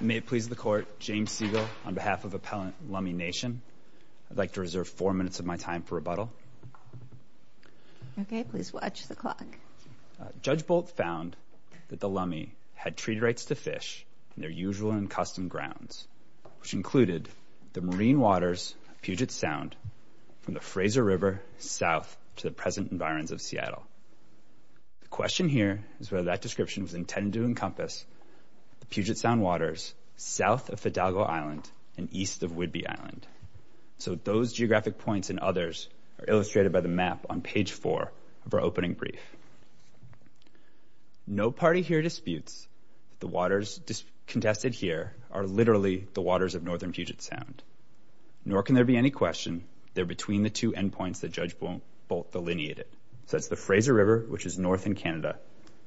May it please the Court, James Siegel on behalf of Appellant Lummi Nation. I'd like to reserve four minutes of my time for rebuttal. Okay, please watch the clock. Judge Bolt found that the Lummi had treaty rights to fish in their usual and custom grounds, which included the marine waters of Puget Sound from the Fraser River south to the present environs of Seattle. The question here is whether that description was intended to encompass the Puget Sound waters south of Fidalgo Island and east of Whidbey Island. So those geographic points and others are illustrated by the map on page four of our opening brief. No party here disputes the waters contested here are literally the waters of northern Puget Sound, nor can there be any question they're between the two endpoints that Judge Bolt delineated. So that's the Fraser River, which is north in Canada,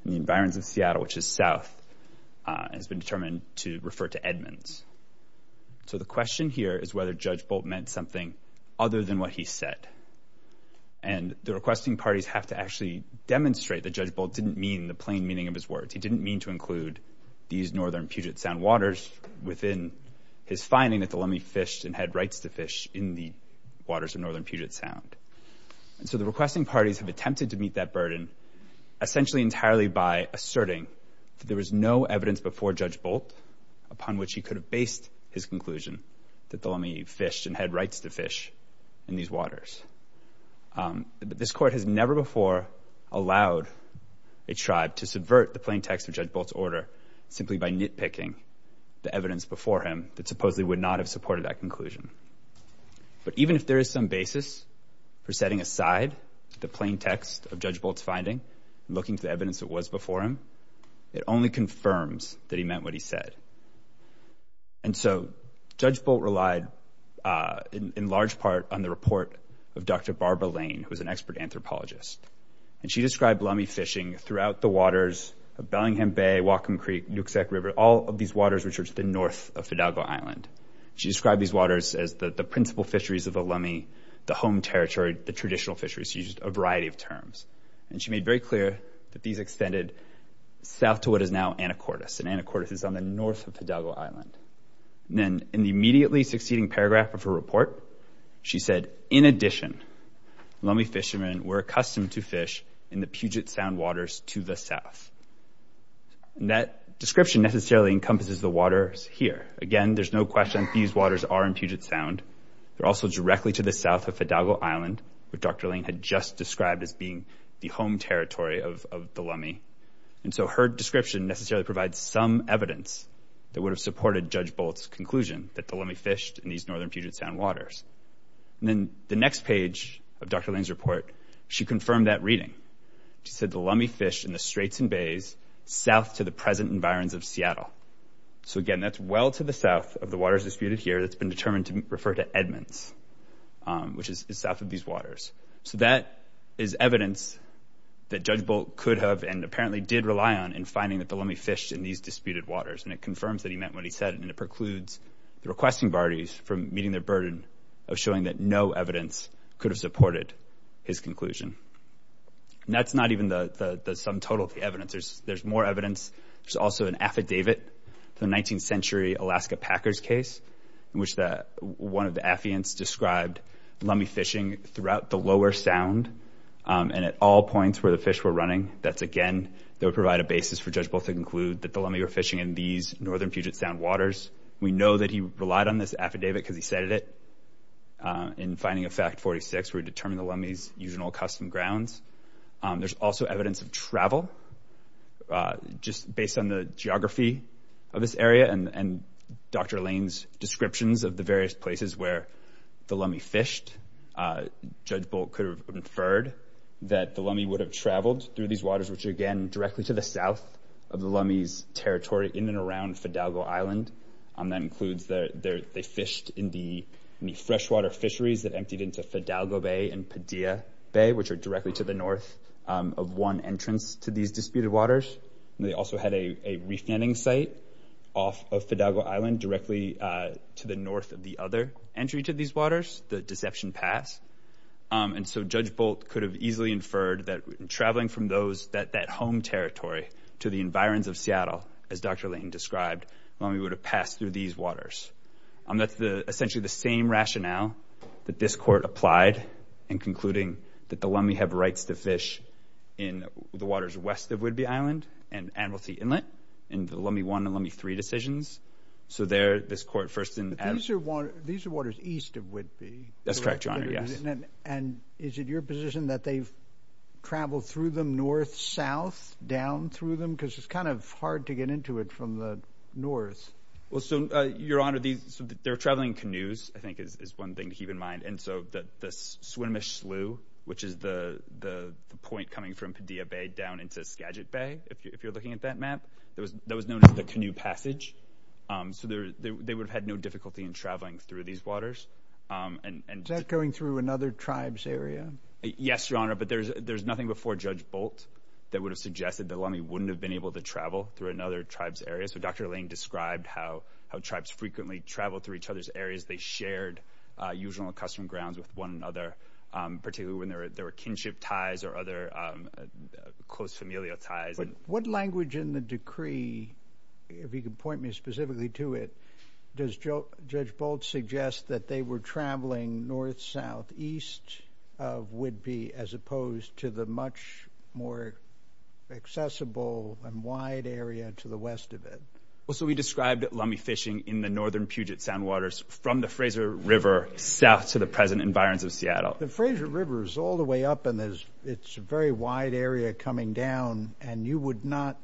and the environs of Seattle, which is south, has been determined to refer to Edmonds. So the question here is whether Judge Bolt meant something other than what he said. And the requesting parties have to actually demonstrate that Judge Bolt didn't mean the plain meaning of his words. He didn't mean to include these northern Puget Sound waters within his finding that the Lummi fished and had rights to fish in the waters of northern Puget Sound. And so the requesting parties have attempted to meet that essentially entirely by asserting there was no evidence before Judge Bolt upon which he could have based his conclusion that the Lummi fished and had rights to fish in these waters. This court has never before allowed a tribe to subvert the plain text of Judge Bolt's order simply by nitpicking the evidence before him that supposedly would not have supported that conclusion. But even if there is some basis for setting aside the plain text of Judge Bolt's finding, looking for evidence that was before him, it only confirms that he meant what he said. And so Judge Bolt relied in large part on the report of Dr. Barbara Lane, who was an expert anthropologist. And she described Lummi fishing throughout the waters of Bellingham Bay, Whatcom Creek, Nuiqsut River, all of these waters which are to the north of Fidalgo Island. She described these waters as the principal fisheries of the Lummi, the home territory, the these extended south to what is now Anacortes. And Anacortes is on the north of Fidalgo Island. And then in the immediately succeeding paragraph of her report, she said, in addition, Lummi fishermen were accustomed to fish in the Puget Sound waters to the south. And that description necessarily encompasses the waters here. Again, there's no question these waters are in Puget Sound. They're also directly to the south of Fidalgo Island, which Dr. Lane had just described as being the home territory of the Lummi. And so her description necessarily provides some evidence that would have supported Judge Bolt's conclusion that the Lummi fished in these northern Puget Sound waters. And then the next page of Dr. Lane's report, she confirmed that reading. She said the Lummi fished in the Straits and Bays south to the present environs of Seattle. So again, that's well to the south of the waters disputed here that's been determined to refer to Edmonds, which is south of these waters. So that is evidence that Judge Bolt could have and apparently did rely on in finding that the Lummi fished in these disputed waters. And it confirms that he meant what he said. And it precludes the requesting parties from meeting their burden of showing that no evidence could have supported his conclusion. That's not even the sum total of the evidence. There's more evidence. There's also an affidavit, the 19th century Alaska Packers case, in which one of the affiants described Lummi fishing throughout the lower sound and at all points where the fish were running. That's again, that would provide a basis for Judge Bolt to conclude that the Lummi were fishing in these northern Puget Sound waters. We know that he relied on this affidavit because he said it. In finding effect 46, we determined the Lummi's usual custom grounds. There's also evidence of travel, just based on the geography of this area and Dr. Lane's descriptions of the various places where the Lummi fished. Judge Bolt could have inferred that the Lummi would have traveled through these waters, which again, directly to the south of the Lummi's territory in and around Fidalgo Island. That includes that they fished in the freshwater fisheries that emptied into Fidalgo Bay and Padilla Bay, which are directly to the north of one entrance to these disputed waters. They also had a reef netting site off of Fidalgo Island, directly to the north of the other entry to these waters, the Deception Pass. Judge Bolt could have easily inferred that traveling from that home territory to the environs of Seattle, as Dr. Lane described, Lummi would have passed through these waters. That's essentially the same rationale that this court applied in concluding that the Lummi have rights to fish in the waters west of Whidbey Island and Anniversary Inlet in the Lummi 1 and Lummi 3 decisions. So there, this court first and... But these are waters east of Whidbey. That's correct, Your Honor, yes. And is it your position that they've traveled through them north-south, down through them? Because it's kind of hard to get into it from the north. Well, so, Your Honor, they're traveling canoes, I think, is one thing to keep in mind. And so, the Swinomish Slough, which is the point coming from Padilla Bay down into Skagit Bay, if you're looking at that map, that was known as the Canoe Passage. So they would have had no difficulty in traveling through these waters. Is that going through another tribe's area? Yes, Your Honor, but there's nothing before Judge Bolt that would have suggested that Lummi wouldn't have been able to travel through another tribe's area. So Dr. Lane described how tribes frequently travel through each other's areas. They shared usual and custom grounds with one another, particularly when there were kinship ties or other close familial ties. But what language in the decree, if you could point me specifically to it, does Judge Bolt suggest that they were traveling north-south, east of Whidbey, as opposed to the much more accessible and wide area to the west of it? Well, so, we described Lummi fishing in the northern Puget Sound waters from the east of Seattle. The Frazier River is all the way up and it's a very wide area coming down, and you would not...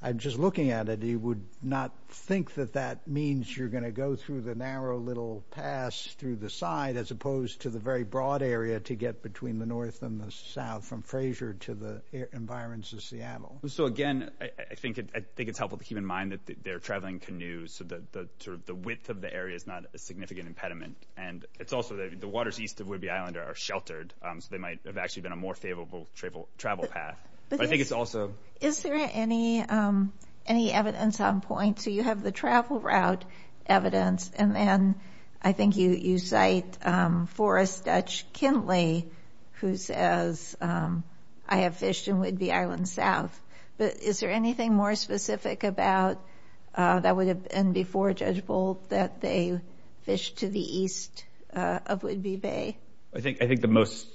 I'm just looking at it, you would not think that that means you're gonna go through the narrow little pass through the side, as opposed to the very broad area to get between the north and the south from Frazier to the environments of Seattle. So again, I think it's helpful to keep in mind that they're traveling canoes, so the width of the area is not a significant impediment. And it's also that the waters east of Whidbey Island are sheltered, so they might have actually been a more favorable travel path. But I think it's also... Is there any evidence on point? So you have the travel route evidence, and then I think you cite Forrest Dutch Kintley, who says, I have fished in Whidbey Island South. But is there anything more specific about... That would have... And before Judge Boldt, that they fished to the east of Whidbey Bay? I think the most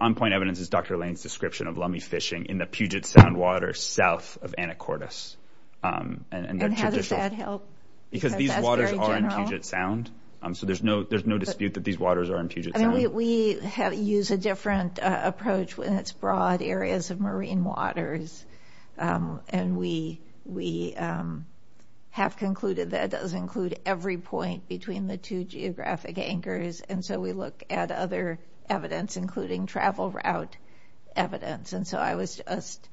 on point evidence is Dr. Lane's description of lummi fishing in the Puget Sound water south of Anacortes. And how does that help? Because these waters are in Puget Sound, so there's no dispute that these waters are in Puget Sound. We use a different approach when it's broad areas of marine waters, and we have concluded that it does include every point between the two geographic anchors. And so we look at other evidence, including travel route evidence. And so I was just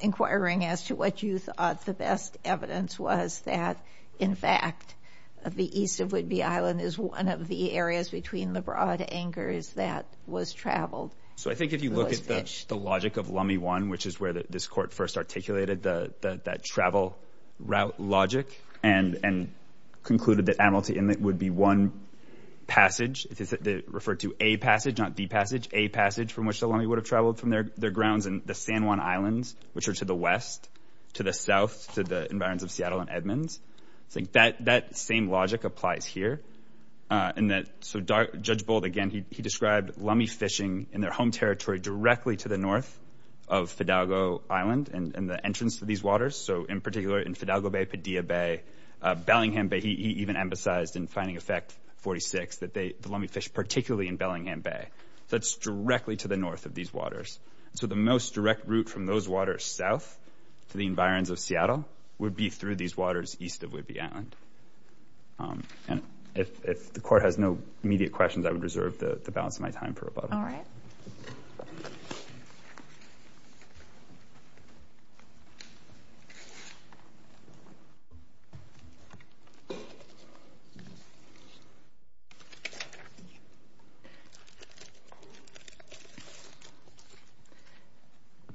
inquiring as to what you thought the best evidence was that, in fact, the east of Whidbey Island is one of the areas between the broad anchors that was traveled. So I think if you look at the logic of Lummi One, which is where this court first articulated that travel route logic and concluded that Amelty Inlet would be one passage, referred to A passage, not B passage, A passage from which the lummi would have traveled from their grounds in the San Juan Islands, which are to the west, to the south, to the environs of Seattle and Edmonds. I think that same logic applies here. And that... So Judge Boldt, again, he described lummi fishing in their home territory directly to the north of Fidalgo Island and the entrance to these waters. So in particular, in Fidalgo Bay, Padilla Bay, Bellingham Bay, he even emphasized in finding effect 46, that the lummi fish particularly in Bellingham Bay. That's directly to the north of these waters. So the most direct route from those waters south to the environs of Seattle would be through these waters east of Whidbey Island. And if the court has no immediate questions, I would reserve the balance of my time for rebuttal. Alright.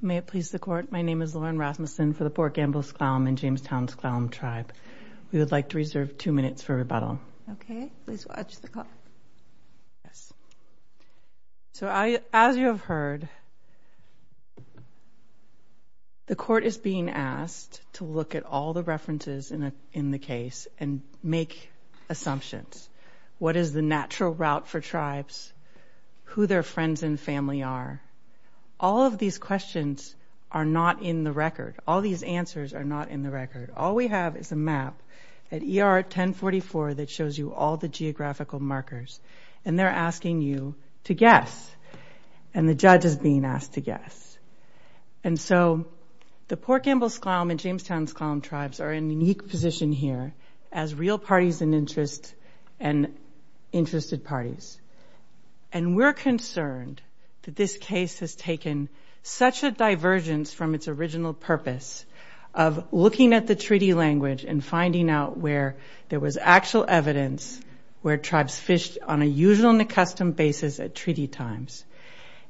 May it please the court, my name is Lauren Rasmussen for the Port Gamble Sklallam and Jamestown Sklallam Tribe. We would like to reserve two minutes for rebuttal. Okay. Please watch the clock. Yes. So as you have heard, the court is being asked to look at all the references in the case and make assumptions. What is the natural route for tribes? Who their friends and family are? All of these questions are not in the record. All these answers are not in the record. All we have is a map at ER 1044 that shows you all the geographical markers. And they're asking you to guess. And the judge is being asked to guess. And so the Port Gamble Sklallam and Jamestown Sklallam Tribes are in a unique position here as real parties in interest and interested parties. And we're concerned that this case has taken such a divergence from its original purpose of looking at the treaty language and finding out where there was actual evidence where tribes fished on a usual and a custom basis at treaty times.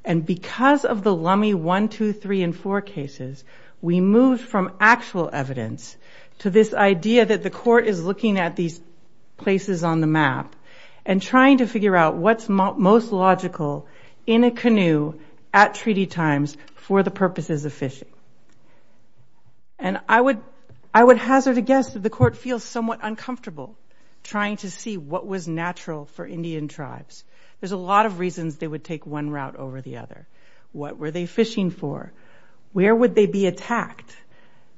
And because of the Lummi 1, 2, 3, and 4 cases, we moved from actual evidence to this idea that the court is looking at these places on the map and trying to figure out what's most logical in a canoe at treaty times for the fishing. And I would hazard a guess that the court feels somewhat uncomfortable trying to see what was natural for Indian tribes. There's a lot of reasons they would take one route over the other. What were they fishing for? Where would they be attacked?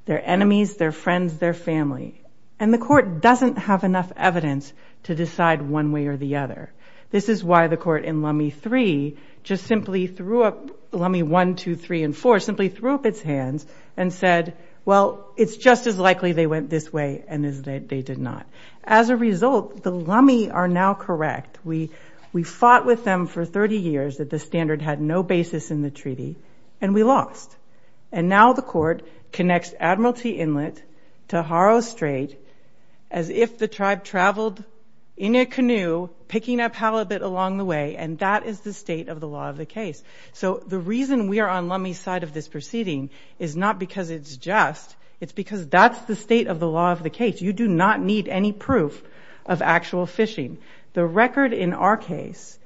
Their enemies, their friends, their family. And the court doesn't have enough evidence to decide one way or the other. This is why the court in Lummi 3 just simply threw up... Lummi 1, 2, 3, and 4 simply threw up its hands and said, well, it's just as likely they went this way and as they did not. As a result, the Lummi are now correct. We fought with them for 30 years that the standard had no basis in the treaty, and we lost. And now the court connects Admiralty Inlet to Haro Strait as if the tribe traveled in a canoe picking up halibut along the way, and that is the state of the law of the case. So the reason we are on Lummi's side of this proceeding is not because it's just, it's because that's the state of the law of the case. You do not need any proof of actual fishing. The record in our case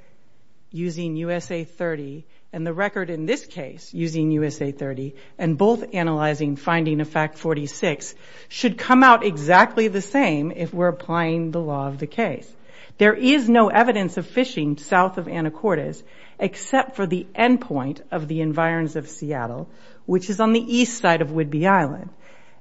using USA 30, and the record in this case using USA 30, and both analyzing finding of fact 46 should come out exactly the same if we're applying the law of the for the endpoint of the environs of Seattle, which is on the east side of Whidbey Island.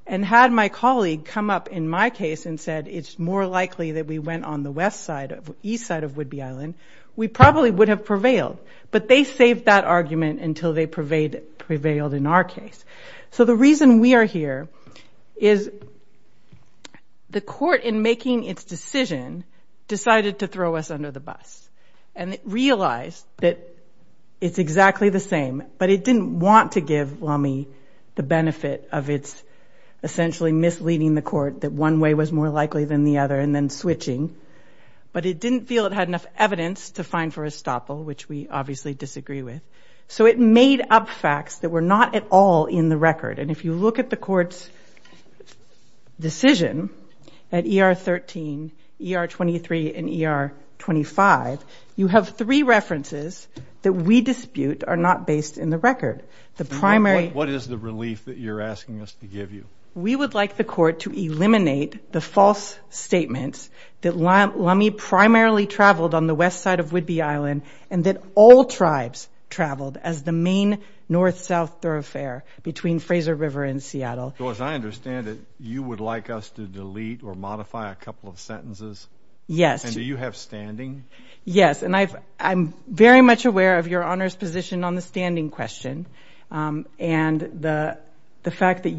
And had my colleague come up in my case and said, it's more likely that we went on the west side of... East side of Whidbey Island, we probably would have prevailed. But they saved that argument until they prevailed in our case. So the reason we are here is the court in making its decision decided to throw us it's exactly the same, but it didn't want to give Lummi the benefit of its essentially misleading the court that one way was more likely than the other, and then switching. But it didn't feel it had enough evidence to find for estoppel, which we obviously disagree with. So it made up facts that were not at all in the record. And if you look at the court's decision at ER 13, ER 23, and ER 25, you have three references that we dispute are not based in the record. The primary... What is the relief that you're asking us to give you? We would like the court to eliminate the false statements that Lummi primarily traveled on the west side of Whidbey Island, and that all tribes traveled as the main north south thoroughfare between Fraser River and Seattle. So as I understand it, you would like us to delete or modify a couple of sentences? Yes. And do you have standing? Yes, and I'm very much aware of your honor's position on the standing question, and the fact that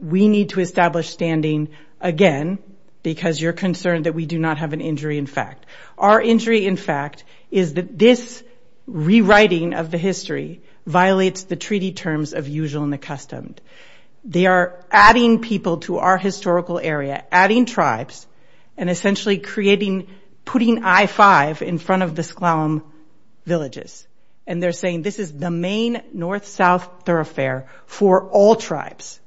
we need to establish standing again, because you're concerned that we do not have an injury in fact. Our injury in fact, is that this rewriting of the history violates the treaty terms of usual and accustomed. They are adding people to our historical area, adding tribes, and essentially creating, putting I5 in front of the Sklallam villages. And they're saying this is the main north south thoroughfare for all tribes.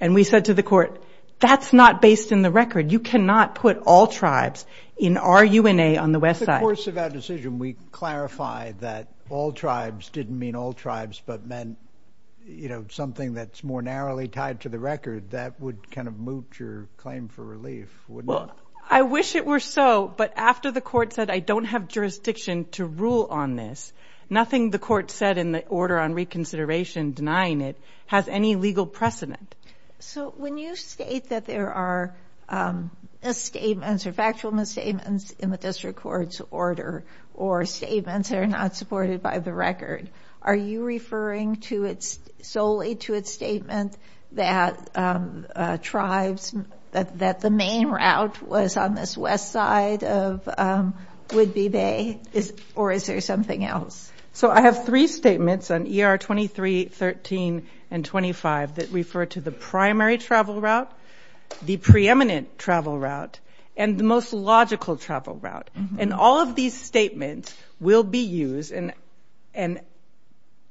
And we said to the court, that's not based in the record. You cannot put all tribes in our UNA on the west side. In the course of that decision, we clarified that all tribes didn't mean all tribes, but meant something that's more narrowly tied to the record. That would kind of looped your claim for relief, wouldn't it? Well, I wish it were so, but after the court said, I don't have jurisdiction to rule on this, nothing the court said in the order on reconsideration denying it has any legal precedent. So when you state that there are misstatements or factual misstatements in the district court's order, or statements that are not supported by the record, are you referring to it solely to its statement that tribes, that the main route was on this west side of Whidbey Bay, or is there something else? So I have three statements on ER 23, 13, and 25 that refer to the primary travel route, the preeminent travel route, and the most logical travel route. And all of these statements will be used and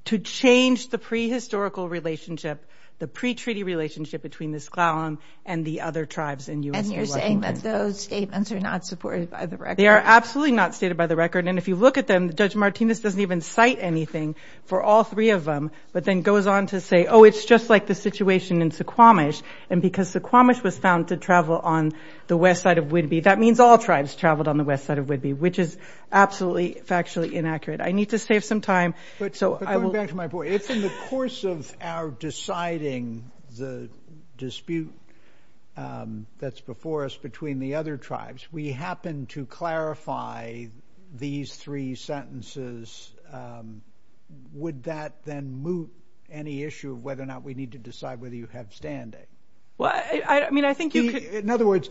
to change the prehistorical relationship, the pre-treaty relationship between the Sklallam and the other tribes in US... And you're saying that those statements are not supported by the record? They are absolutely not stated by the record. And if you look at them, Judge Martinez doesn't even cite anything for all three of them, but then goes on to say, oh, it's just like the situation in Suquamish. And because Suquamish was found to travel on the west side of Whidbey, that means all tribes traveled on the west side of Whidbey, which is absolutely factually inaccurate. I need to save some time, so I will... But going back to my point, it's in the course of our deciding the dispute that's before us between the other tribes, we happen to clarify these three sentences. Would that then move any issue of whether or not we need to decide whether you have standing? Well, I think you could... In other words,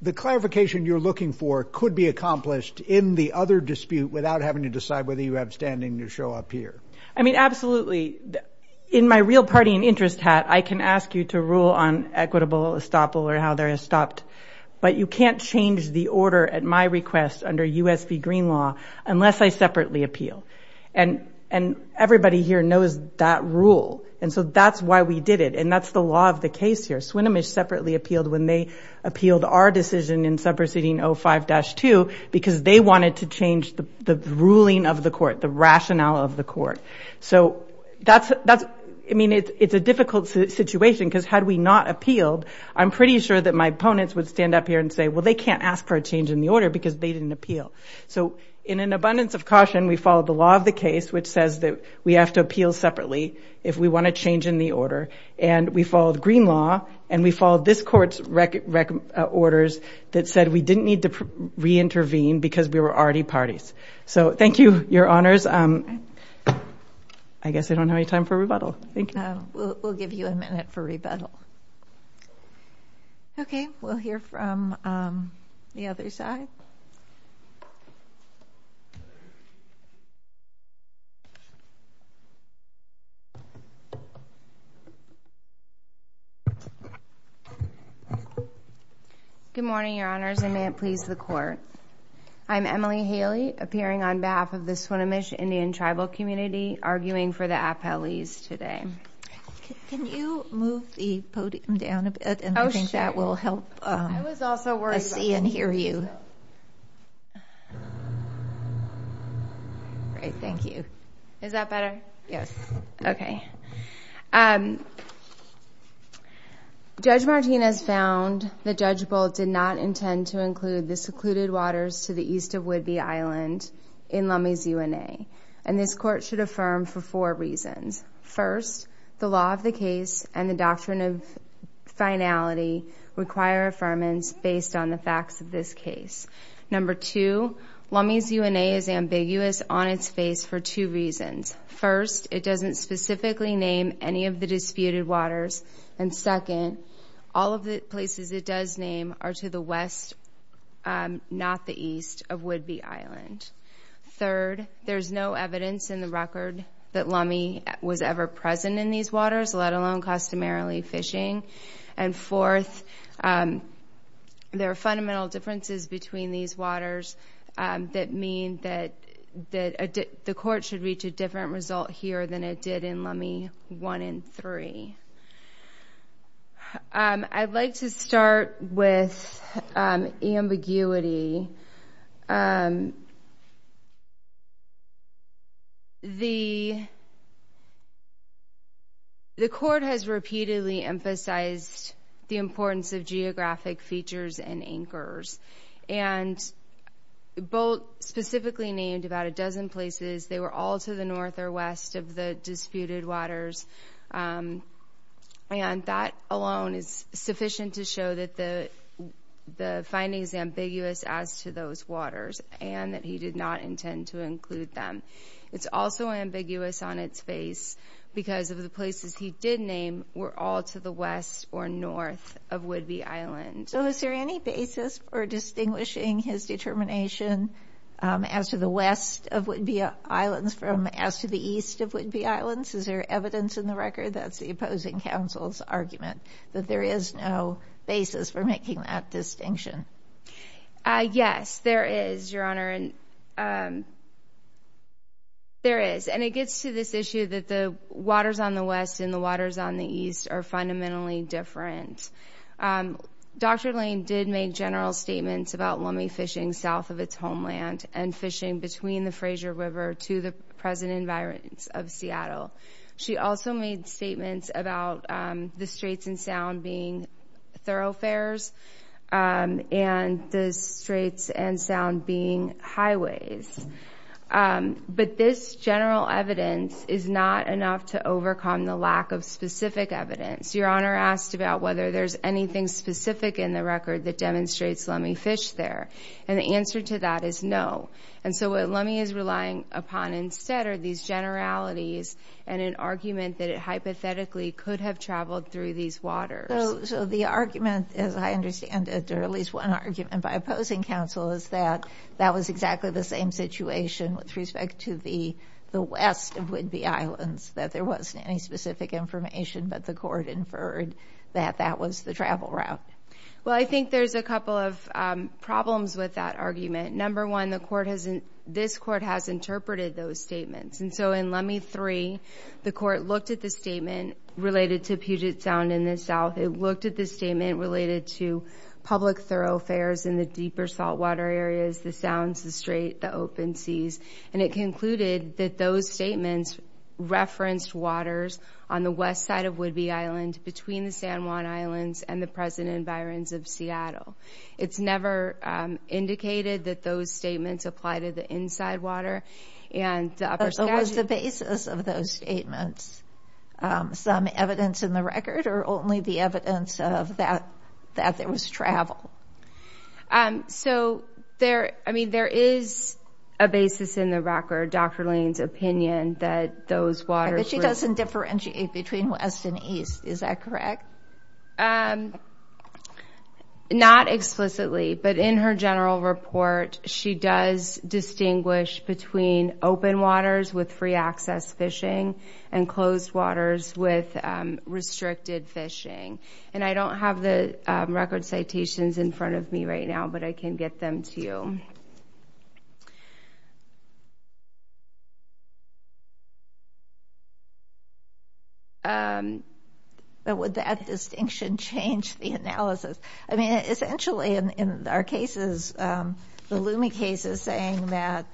the clarification you're looking for could be accomplished in the other dispute without having to decide whether you have standing to show up here. I mean, absolutely. In my real party and interest hat, I can ask you to rule on equitable estoppel or how they're estopped, but you can't change the order at my request under U.S. v. Green Law unless I separately appeal. And everybody here knows that rule, and so that's why we did it, and that's the law of the case here. Suquamish separately appealed when they appealed our decision in Sub Proceeding 05-2, because they wanted to change the ruling of the court, the rationale of the court. So that's... I mean, it's a difficult situation, because had we not appealed, I'm pretty sure that my opponents would stand up here and say, well, they can't ask for a change in the order because they didn't appeal. So in an abundance of caution, we followed the law of the case, which says that we have to appeal separately if we wanna change in the order, and we followed Green Law, and we followed this court's orders that said we didn't need to reintervene because we were already parties. So thank you, your honors. I guess I don't have any time for rebuttal. Thank you. We'll give you a minute for rebuttal. Okay, we'll hear from the other side. Good morning, your honors, and may it please the court. I'm Emily Haley, appearing on behalf of the Swinomish Indian Tribal Community, arguing for the appellees today. Can you move the podium down a bit, and I think that will help... Oh, sure. I was also worried about that. To see and hear you. Great, thank you. Is that better? Yes. Okay. Judge Martinez found that Judge Bolt did not intend to include the secluded waters to the east of Whidbey Island in Lummi's UNA, and this court should affirm for four reasons. First, the law of the case and the doctrine of finality require affirmance based on the facts of this case. Number two, Lummi's UNA is ambiguous on its face for two reasons. First, it doesn't specifically name any of the disputed waters, and second, all of the places it does name are to the west, not the east, of Whidbey Island. Third, there's no evidence in the record that Lummi was ever present in these waters, let alone customarily fishing. And fourth, there are fundamental differences between these waters that mean that the court should reach a different result here than it did in Lummi one and three. I'd like to start with ambiguity. The court has repeatedly emphasized the importance of geographic features and anchors, and Bolt specifically named about a dozen places. They were all to the north or west of the disputed waters, and that alone is sufficient to show that the finding is ambiguous as to those waters, and that he did not intend to include them. It's also ambiguous on its face because of the places he did name were all to the west or north of Whidbey Island. So is there any basis for distinguishing his determination as to the west of Whidbey Island from as to the east of Whidbey Island? Is there evidence in the record that's the opposing counsel's argument, that there is no basis for making that distinction? Yes, there is, Your Honor, and there is. And it gets to this issue that the waters on the west and the waters on the east are fundamentally different. Dr. Lane did make general statements about Lummi fishing south of its homeland and fishing between the Fraser River to the present environs of Seattle. She also made statements about the Straits and Sound being thoroughfares and the Straits and Sound being highways. But this general evidence is not enough to overcome the lack of specific evidence. Your Honor asked about whether there's anything specific in the record that demonstrates Lummi fished there, and the answer to that is no. And so what Lummi is relying upon instead are these generalities and an argument that it hypothetically could have traveled through these waters. So the argument, as I understand it, or at least one argument by opposing counsel is that that was exactly the same situation with respect to the west of Whidbey Islands, that there wasn't any specific information, but the court inferred that that was the travel route. Well, I think there's a couple of problems with that argument. Number one, this court has interpreted those statements. And so in Lummi three, the court looked at the statement related to Puget Sound in the south. It looked at the statement related to public thoroughfares in the deeper saltwater areas, the sounds, the strait, the open seas. And it concluded that those statements referenced waters on the west side of Whidbey Island between the San Juan Islands and the present environs of Seattle. It's never indicated that those statements apply to the inside water and the upper Saskatchewan. But what was the basis of those statements? Some evidence in the record or only the evidence of that there was travel? So there is a basis in the record, Dr. Lane's opinion, that those waters... But she doesn't differentiate between west and east, is that correct? No. Not explicitly, but in her general report, she does distinguish between open waters with free access fishing and closed waters with restricted fishing. And I don't have the record citations in front of me right now, but I can get them to you. But would that distinction change the analysis? I mean, essentially, in our cases, the Lume case is saying that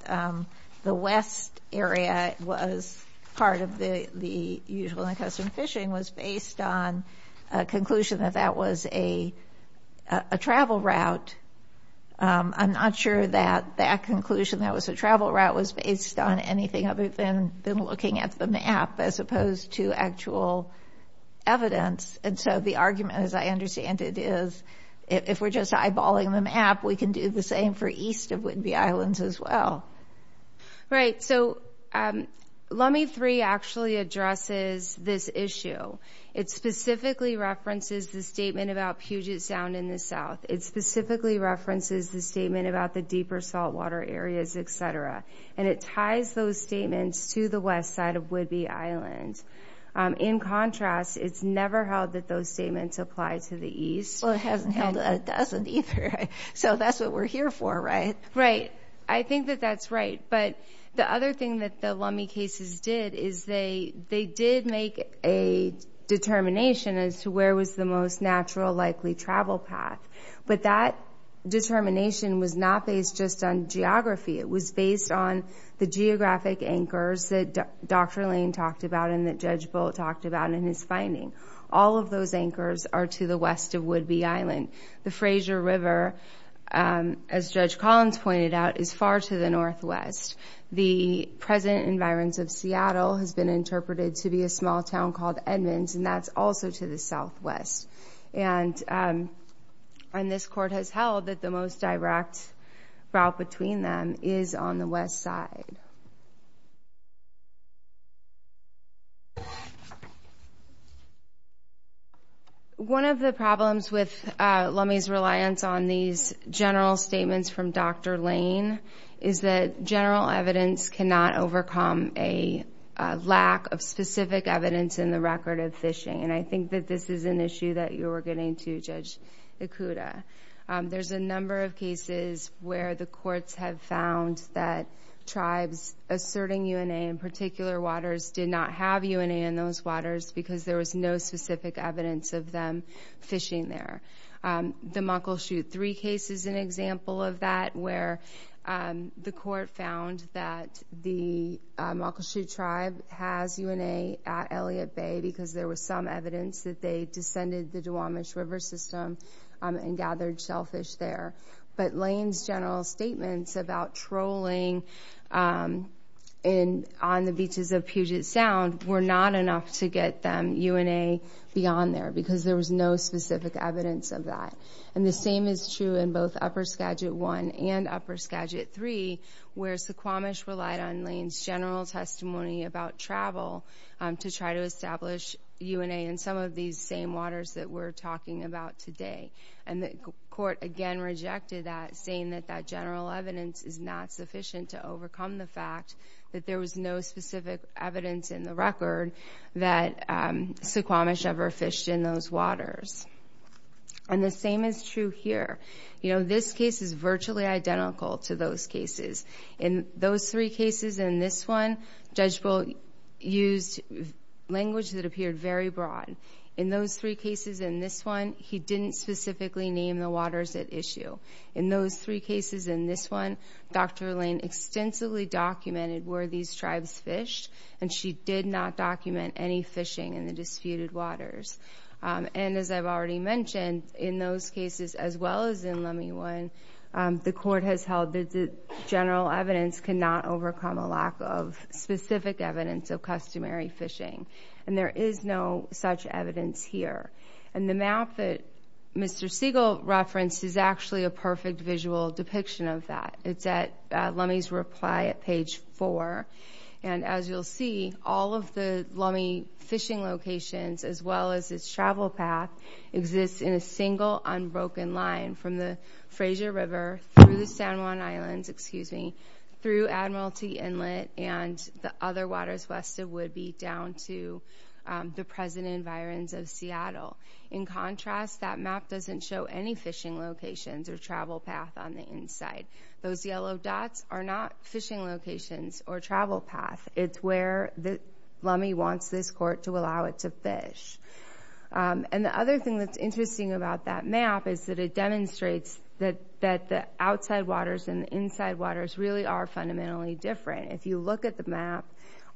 the west area was part of the usual and custom fishing, was based on a conclusion that that was a travel route. I'm not sure that that conclusion that was a travel route was based on anything other than looking at the map as opposed to actual evidence. And so the argument, as I understand it, is if we're just eyeballing the map, we can do the same for east of Whidbey Island as well. Right. So Lume 3 actually addresses this issue. It specifically references the statement about Puget Sound in the south. It specifically references the statement about the deeper saltwater areas, etc. And it ties those statements to the west side of Whidbey Island. In contrast, it's never held that those statements apply to the east. Well, it hasn't held that it doesn't either. So that's what we're here for, right? Right. I think that that's right. But the other thing that Lume cases did is they did make a determination as to where was the most natural likely travel path. But that determination was not based just on geography. It was based on the geographic anchors that Dr. Lane talked about and that Judge Bolt talked about in his finding. All of those anchors are to the west of Whidbey Island. The Fraser River, as Judge Collins pointed out, is far to the northwest. The present environs of Seattle has been interpreted to be a small town called Edmonds, and that's also to the southwest. And this court has held that the most direct route between them is on the west side. One of the problems with Lume's reliance on these general statements from Dr. Lane is that general evidence cannot overcome a lack of specific evidence in the record of fishing. And I think that this is an issue that you're getting too, Judge Ikuda. There's a number of cases where the courts have found that tribes asserting UNA in particular waters did not have UNA in those waters because there was no specific evidence of them fishing there. The Muckleshoot Three case is an example of that where the court found that the Muckleshoot tribe has UNA at Elliott Bay because there was some evidence that they descended the Duwamish River system and gathered shellfish there. But Lane's general statements about trolling on the beaches of Puget Sound were not enough to get them UNA beyond there because there was no specific evidence of that. And the same is true in both Upper Skagit One and Upper Skagit Three where Suquamish relied on Lane's general testimony about travel to try to establish UNA in some of these same waters that we're talking about today. And the court again rejected that, saying that that general evidence is not sufficient to overcome the fact that there was no specific evidence in the record that Suquamish ever fished in those waters. And the same is true here. This case is virtually identical to those cases. In those three cases and this one, Judge Bull used language that appeared very broad. In those three cases and this one, he didn't specifically name the waters at issue. In those three cases and this one, Dr. Lane extensively documented where these tribes fished and she did not document any fishing in the disputed waters. And as I've already mentioned, in those cases as well as in Lummi One, the court has held that the general evidence cannot overcome a lack of specific evidence of customary fishing. And there is no such evidence here. And the map that Mr. Siegel referenced is actually a perfect visual depiction of that. It's at Lummi's reply at page four. And as you'll see, all of the Lummi fishing locations as well as its travel path exists in a single unbroken line from the Frayser River through the San Juan Islands, excuse me, through Admiralty Inlet and the other waters west of Woodby down to the present environs of Seattle. In contrast, that map doesn't show any fishing locations or travel path on the inside. Those yellow dots are not fishing locations or travel path. It's where the Lummi wants this court to allow it to fish. And the other thing that's interesting about that map is that it demonstrates that the outside waters and the inside waters really are fundamentally different. If you look at the map,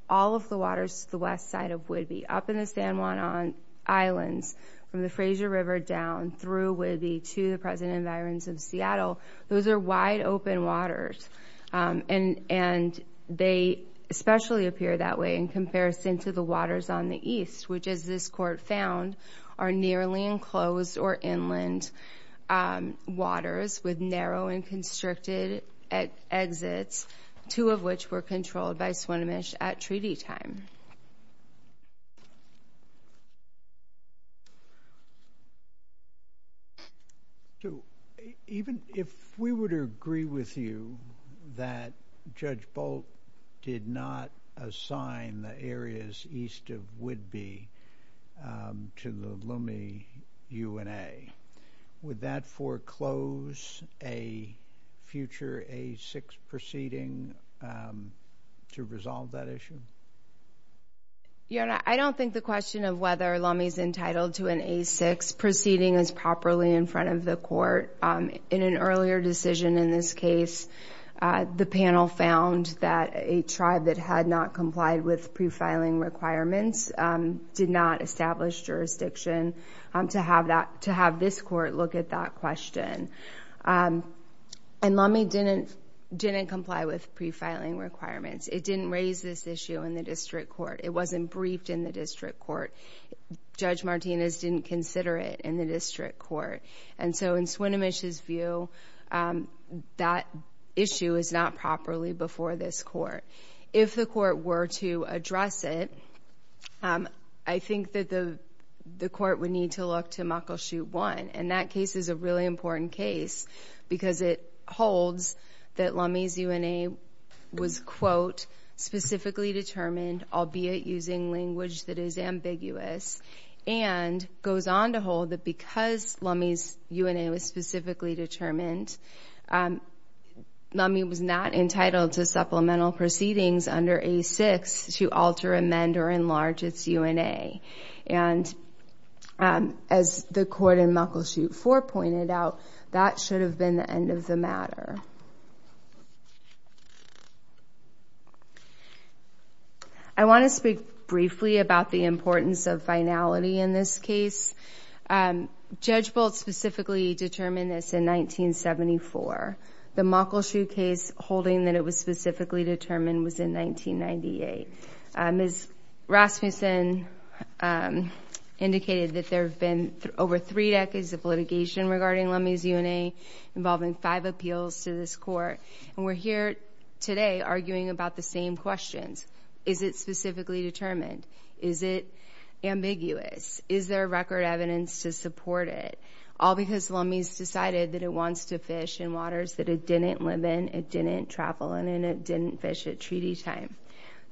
all of the waters to the west side of Woodby, up in the San Juan Islands, from the Frayser River down through Woodby to the present environs of Seattle, those are wide open waters. And they especially appear that way in comparison to the waters on the east, which as this court found, are nearly enclosed or inland waters with narrow and constricted exits, two of which were controlled by Swinomish at treaty time. So even if we would agree with you that Judge Bolt did not assign the areas east of Woodby to the Lummi UNA, would that foreclose a future A6 proceeding to resolve that issue? Your Honor, I don't think the question of whether Lummi's entitled to an A6 proceeding is properly in front of the court. In an earlier decision in this case, the panel found that a tribe that had not complied with prefiling requirements did not establish jurisdiction to have this court look at that question. And Lummi didn't comply with prefiling requirements. It didn't raise this issue in the district court. It wasn't briefed in the district court. Judge Martinez didn't consider it in the district court. And so in Swinomish's view, that issue is not properly before this court. If the court were to address it, I think that the court would need to look to Muckleshoot 1. And that case is a really important case because it holds that Lummi's UNA was, quote, specifically determined albeit using language that is ambiguous, and goes on to hold that because Lummi's UNA was specifically determined, Lummi was not entitled to supplemental proceedings under A6 to alter, amend, or enlarge its UNA. And as the court in Muckleshoot 4 pointed out, that should have been the end of the matter. I want to speak briefly about the importance of finality in this case. Judge Bolt specifically determined this in 1974. The Muckleshoot case holding that it was specifically determined was in 1998. Ms. Rasmussen indicated that there have been over three decades of litigation regarding Lummi's to this court. And we're here today arguing about the same questions. Is it specifically determined? Is it ambiguous? Is there record evidence to support it? All because Lummi's decided that it wants to fish in waters that it didn't live in, it didn't travel in, and it didn't fish at treaty time.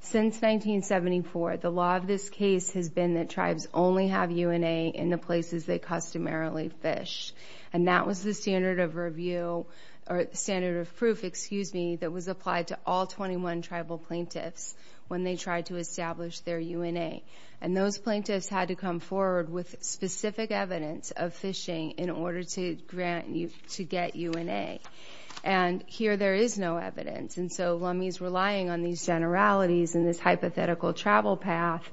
Since 1974, the law of this case has been that tribes only have UNA in the places they customarily fish. And that was the standard of review, or standard of proof, excuse me, that was applied to all 21 tribal plaintiffs when they tried to establish their UNA. And those plaintiffs had to come forward with specific evidence of fishing in order to get UNA. And here there is no evidence. And so Lummi's relying on these generalities and this hypothetical travel path.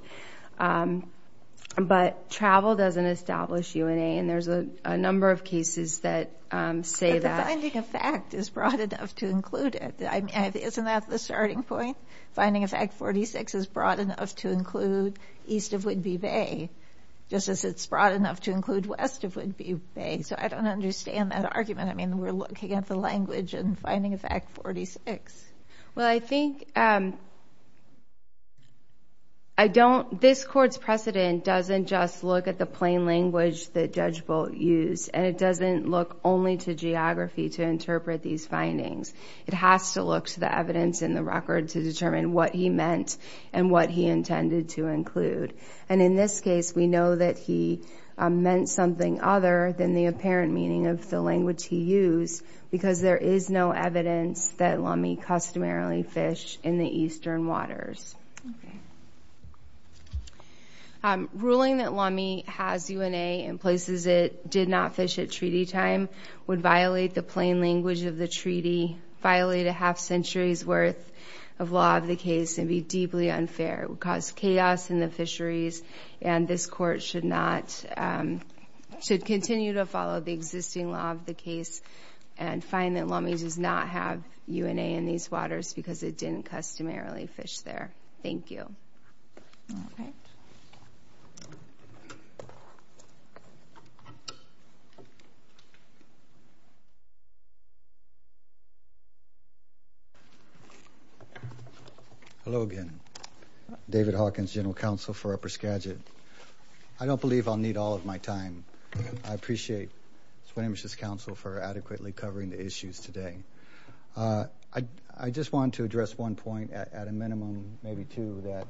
But travel doesn't establish UNA, and there's a number of cases that say that. But the finding of fact is broad enough to include it. Isn't that the starting point? Finding of fact 46 is broad enough to include east of Whidbey Bay, just as it's broad enough to include west of Whidbey Bay. So I don't understand that argument. I mean, we're looking at the language in finding of fact 46. Well, I think I don't... This court's precedent doesn't just look at the plain language that Judge Bolt used, and it doesn't look only to geography to interpret these findings. It has to look to the evidence in the record to determine what he meant and what he intended to include. And in this case, we know that he meant something other than the apparent meaning of the language he used, because there is no evidence that Lummi customarily fished in the eastern waters. Okay. Ruling that Lummi has UNA in places it did not fish at treaty time would violate the plain language of the treaty, violate a half century's worth of law of the case, and be deeply unfair. It would cause chaos in the fisheries, and this court should not... Should continue to follow the existing law of the case and find that UNA in these waters, because it didn't customarily fish there. Thank you. Okay. Hello again. David Hawkins, General Counsel for Upper Skagit. I don't believe I'll need all of my time. I appreciate it. I just want to address one point at a minimum, maybe two, that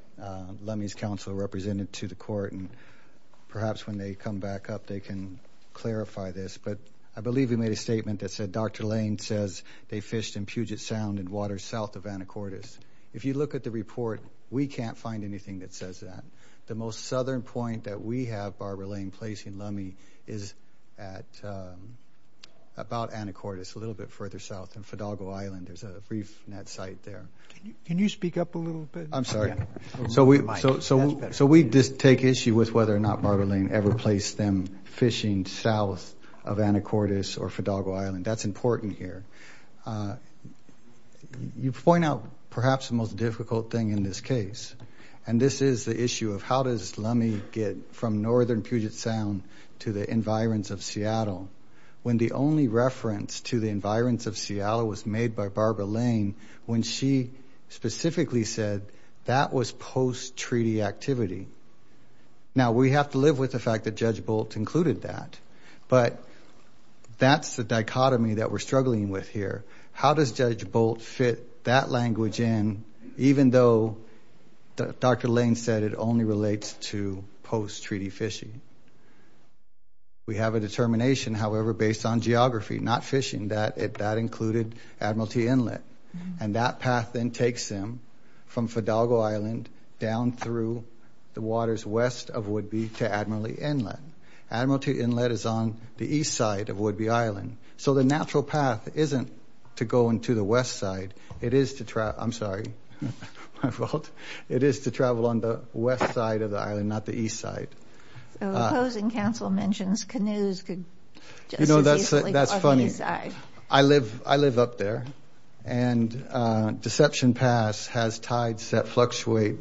Lummi's counsel represented to the court, and perhaps when they come back up, they can clarify this. But I believe we made a statement that said, Dr. Lane says they fished in Puget Sound in waters south of Anacortes. If you look at the report, we can't find anything that says that. The most southern point that we have Barbara Lane placing Lummi is at... About Anacortes, a little bit further south, in Fidalgo Island, there's a reef net site there. Can you speak up a little bit? I'm sorry. So we just take issue with whether or not Barbara Lane ever placed them fishing south of Anacortes or Fidalgo Island. That's important here. You point out perhaps the most difficult thing in this case, and this is the issue of how does Lummi get from northern Puget Sound to the environs of Seattle, when the only reference to the environs of Seattle was made by Barbara Lane, when she specifically said that was post treaty activity. Now, we have to live with the fact that Judge Bolt included that, but that's the dichotomy that we're struggling with here. How does Judge Bolt fit that language in, even though Dr. Lane said it only relates to post treaty fishing? We have a determination, however, based on geography, not fishing, that that included Admiralty Inlet. And that path then takes them from Fidalgo Island down through the waters west of Woodby to Admiralty Inlet. Admiralty Inlet is on the east side of Woodby Island. So the natural path isn't to go into the west side, it is to travel... I'm sorry. My fault. It is to travel on the west side of the island, not the east side. So the opposing council mentions canoes could just as easily... You know, that's funny. I live up there, and Deception Pass has tides that fluctuate.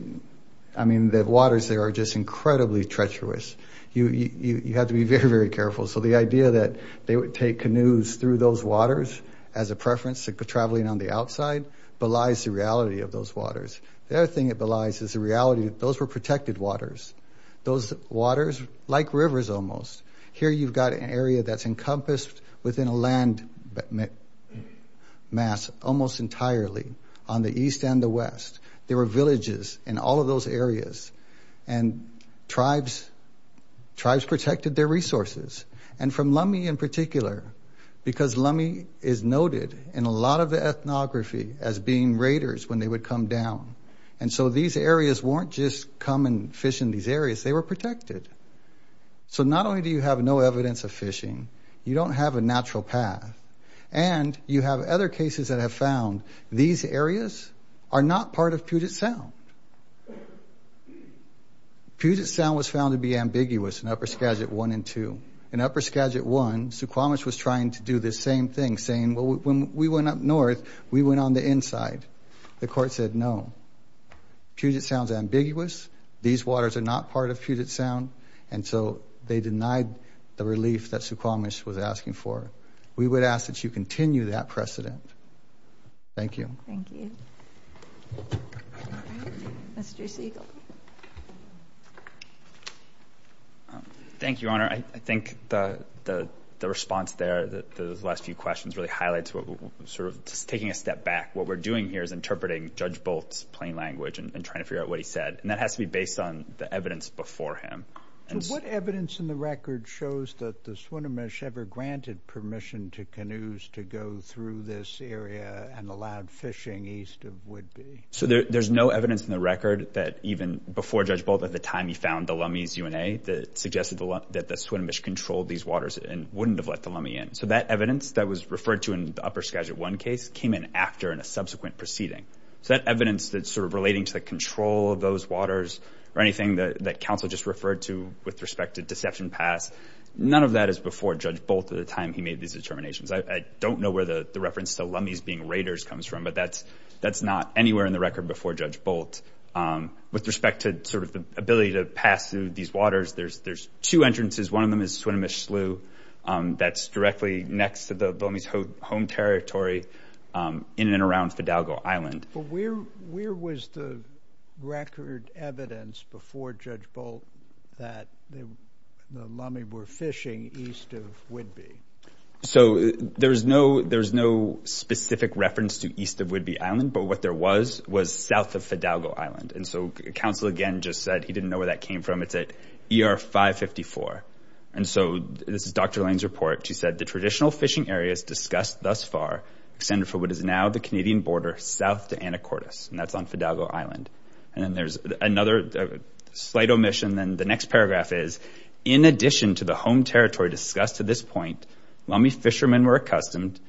I mean, the waters there are just incredibly treacherous. You have to be very, very careful. So the idea that they would take canoes through those waters as a preference to traveling on the outside belies the reality of those waters. The other thing it belies is the reality that those were protected waters. Those waters, like rivers almost, here you've got an area that's encompassed within a land mass almost entirely on the east and the west. There were villages in all of those areas, and tribes protected their resources. And from Lummi in particular, because Lummi is noted in a lot of the ethnography as being a place where the water was very, very deep, there were no craters when they would come down. And so these areas weren't just come and fish in these areas. They were protected. So not only do you have no evidence of fishing, you don't have a natural path, and you have other cases that have found these areas are not part of Puget Sound. Puget Sound was found to be ambiguous in Upper Skagit 1 and 2. In Upper Skagit 1, Suquamish was trying to do the same thing, saying, Well, when we went up north, we went on the inside. The court said, No, Puget Sound's ambiguous. These waters are not part of Puget Sound. And so they denied the relief that Suquamish was asking for. We would ask that you continue that precedent. Thank you. Thank you. Mr. Siegel. Thank you, Your Honor. I think the response there, the last few questions really highlights what we're sort of just taking a step back. What we're doing here is interpreting Judge Bolt's plain language and trying to figure out what he said, and that has to be based on the evidence before him. What evidence in the record shows that the Suquamish ever granted permission to canoes to go through this area and allowed fishing east of Woodby? So there's no evidence in the record that even before Judge Bolt, at the time he found the Lummies UNA, that suggested that the Suquamish controlled these waters and wouldn't have let the Lummie in. So that evidence that was referred to in the Upper Skagit 1 case came in after in a subsequent proceeding. So that evidence that's sort of relating to the control of those waters or anything that counsel just referred to with respect to deception pass, none of that is before Judge Bolt at the time he made these determinations. I don't know where the reference to Lummies being raiders comes from, but that's not anywhere in the record before Judge Bolt. With respect to the ability to pass through these waters, there's two entrances. One of them is Suquamish Slough. That's directly next to the Lummies' home territory in and around Fidalgo Island. But where was the record evidence before Judge Bolt that the Lummie were fishing east of Woodby Island, but what there was, was south of Fidalgo Island. And so counsel again just said he didn't know where that came from. It's at ER 554. And so this is Dr. Lane's report. She said, the traditional fishing areas discussed thus far extended for what is now the Canadian border south to Anacortes, and that's on Fidalgo Island. And then there's another slight omission. Then the next paragraph is, in addition to the home territory discussed to this point, Lummie fishermen were accustomed,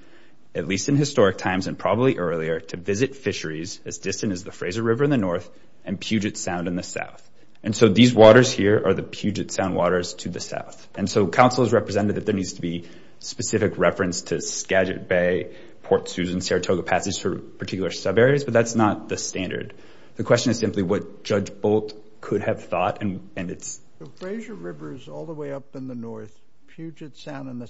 at least in the early earlier, to visit fisheries as distant as the Fraser River in the north and Puget Sound in the south. And so these waters here are the Puget Sound waters to the south. And so counsel has represented that there needs to be specific reference to Skagit Bay, Port Susan, Saratoga Passage for particular sub areas, but that's not the standard. The question is simply what Judge Bolt could have thought, and it's... The Fraser River is all the way up in the north, Puget Sound in the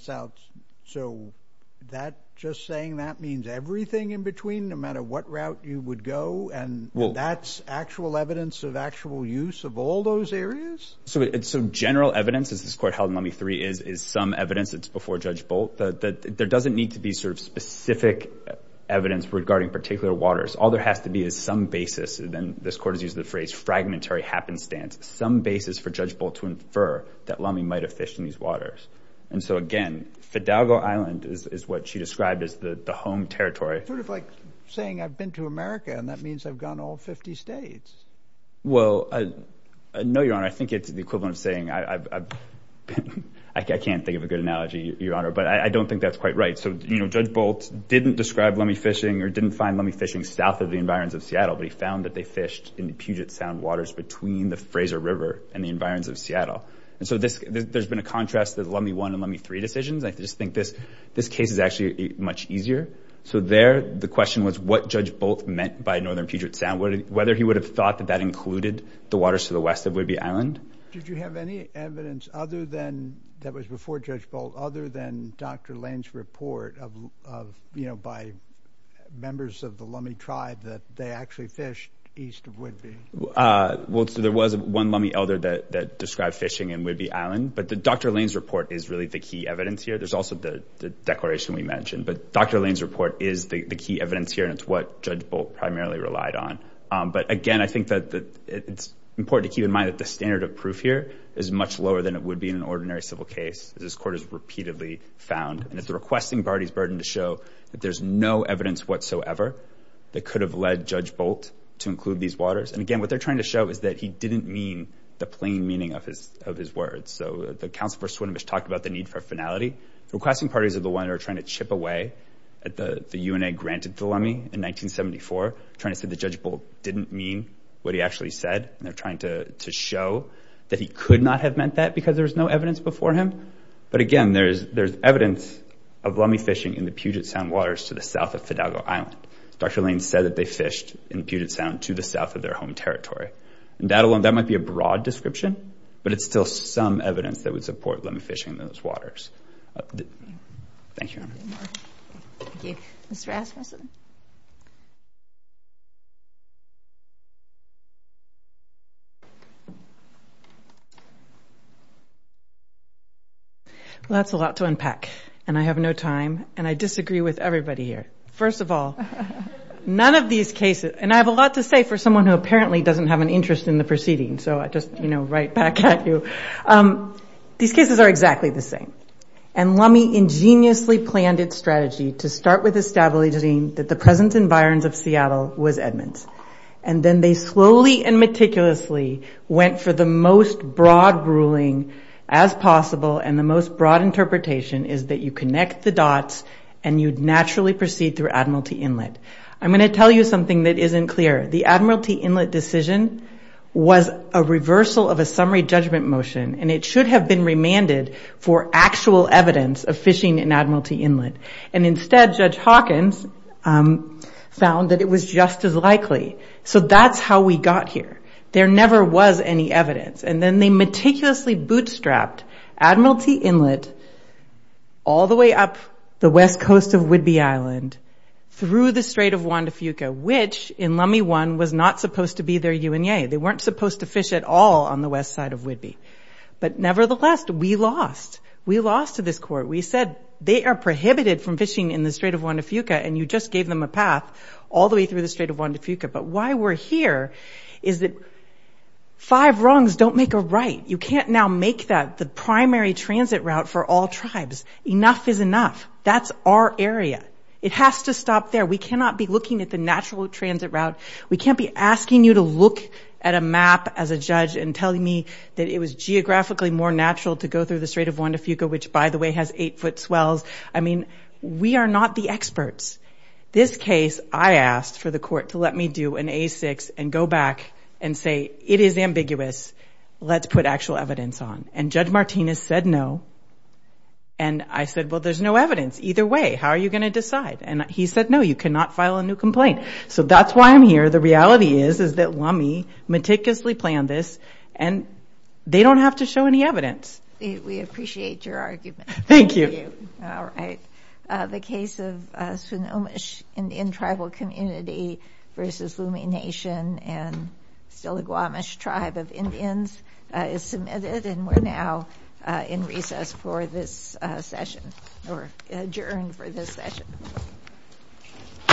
between, no matter what route you would go, and that's actual evidence of actual use of all those areas? So general evidence, as this court held in Lummie III, is some evidence, it's before Judge Bolt, there doesn't need to be specific evidence regarding particular waters. All there has to be is some basis, and then this court has used the phrase, fragmentary happenstance, some basis for Judge Bolt to infer that Lummie might have fished in these waters. And so again, Fidalgo Island is what she described as the home territory. Sort of like saying, I've been to America, and that means I've gone all 50 states. Well, I know, Your Honor, I think it's the equivalent of saying I've been... I can't think of a good analogy, Your Honor, but I don't think that's quite right. So Judge Bolt didn't describe Lummie fishing or didn't find Lummie fishing south of the environs of Seattle, but he found that they fished in the Puget Sound waters between the Fraser River and the environs of Seattle. And so there's been a contrast that Lummie I and Lummie III decisions. I just think this question was what Judge Bolt meant by Northern Puget Sound, whether he would have thought that that included the waters to the west of Whidbey Island. Did you have any evidence other than... That was before Judge Bolt, other than Dr. Lane's report of... By members of the Lummie tribe that they actually fished east of Whidbey? Well, so there was one Lummie elder that described fishing in Whidbey Island, but the Dr. Lane's report is really the key evidence here. There's also the declaration we mentioned, but Dr. Lane's report is the key evidence here, and it's what Judge Bolt primarily relied on. But again, I think that it's important to keep in mind that the standard of proof here is much lower than it would be in an ordinary civil case. This court has repeatedly found, and it's the requesting party's burden to show that there's no evidence whatsoever that could have led Judge Bolt to include these waters. And again, what they're trying to show is that he didn't mean the plain meaning of his words. So the counsel for Swinomish talked about the need for finality. Requesting parties are the one who are trying to chip away at the... The UNA granted the Lummie in 1974, trying to say that Judge Bolt didn't mean what he actually said, and they're trying to show that he could not have meant that because there was no evidence before him. But again, there's evidence of Lummie fishing in the Puget Sound waters to the south of Fidalgo Island. Dr. Lane said that they fished in Puget Sound to the south of their home territory. And that alone, that might be a broad description, but it's still some evidence that would support Lummie fishing in those waters. Thank you, Your Honor. Thank you. Ms. Rasmussen. Well, that's a lot to unpack, and I have no time, and I disagree with everybody here. First of all, none of these cases... And I have a lot to say for someone who apparently doesn't have an interest in the proceeding, so I'll just write back at you. These cases are exactly the same. And Lummie ingeniously planned its strategy to start with establishing that the presence in Byron's of Seattle was Edmund's. And then they slowly and meticulously went for the most broad ruling as possible, and the most broad interpretation is that you connect the dots and you'd naturally proceed through Admiralty Inlet. I'm gonna tell you something that was a reversal of a summary judgment motion, and it should have been remanded for actual evidence of fishing in Admiralty Inlet. And instead, Judge Hawkins found that it was just as likely. So that's how we got here. There never was any evidence. And then they meticulously bootstrapped Admiralty Inlet all the way up the west coast of Whidbey Island through the Strait of Juan de Fuca, which in Lummie One was not supposed to be their UNA. They weren't supposed to fish at all on the west side of Whidbey. But nevertheless, we lost. We lost to this court. We said, they are prohibited from fishing in the Strait of Juan de Fuca, and you just gave them a path all the way through the Strait of Juan de Fuca. But why we're here is that five wrongs don't make a right. You can't now make that the primary transit route for all tribes. Enough is enough. That's our area. It has to stop there. We cannot be looking at the natural transit route. We can't be asking you to look at a map as a judge and telling me that it was geographically more natural to go through the Strait of Juan de Fuca, which, by the way, has eight foot swells. I mean, we are not the experts. This case, I asked for the court to let me do an A6 and go back and say, it is ambiguous. Let's put actual evidence on. And Judge Martinez said no. And I said, well, there's no evidence. Either way, how are you gonna decide? And he said, no, you cannot file a new complaint. So that's why I'm here. The reality is, is that Lummi meticulously planned this and they don't have to show any evidence. We appreciate your argument. Thank you. Alright. The case of Sonomish Indian Tribal Community versus Lummi Nation and Stiligwamish Tribe of Indians is submitted and we're now in recess for this session or adjourned for this session.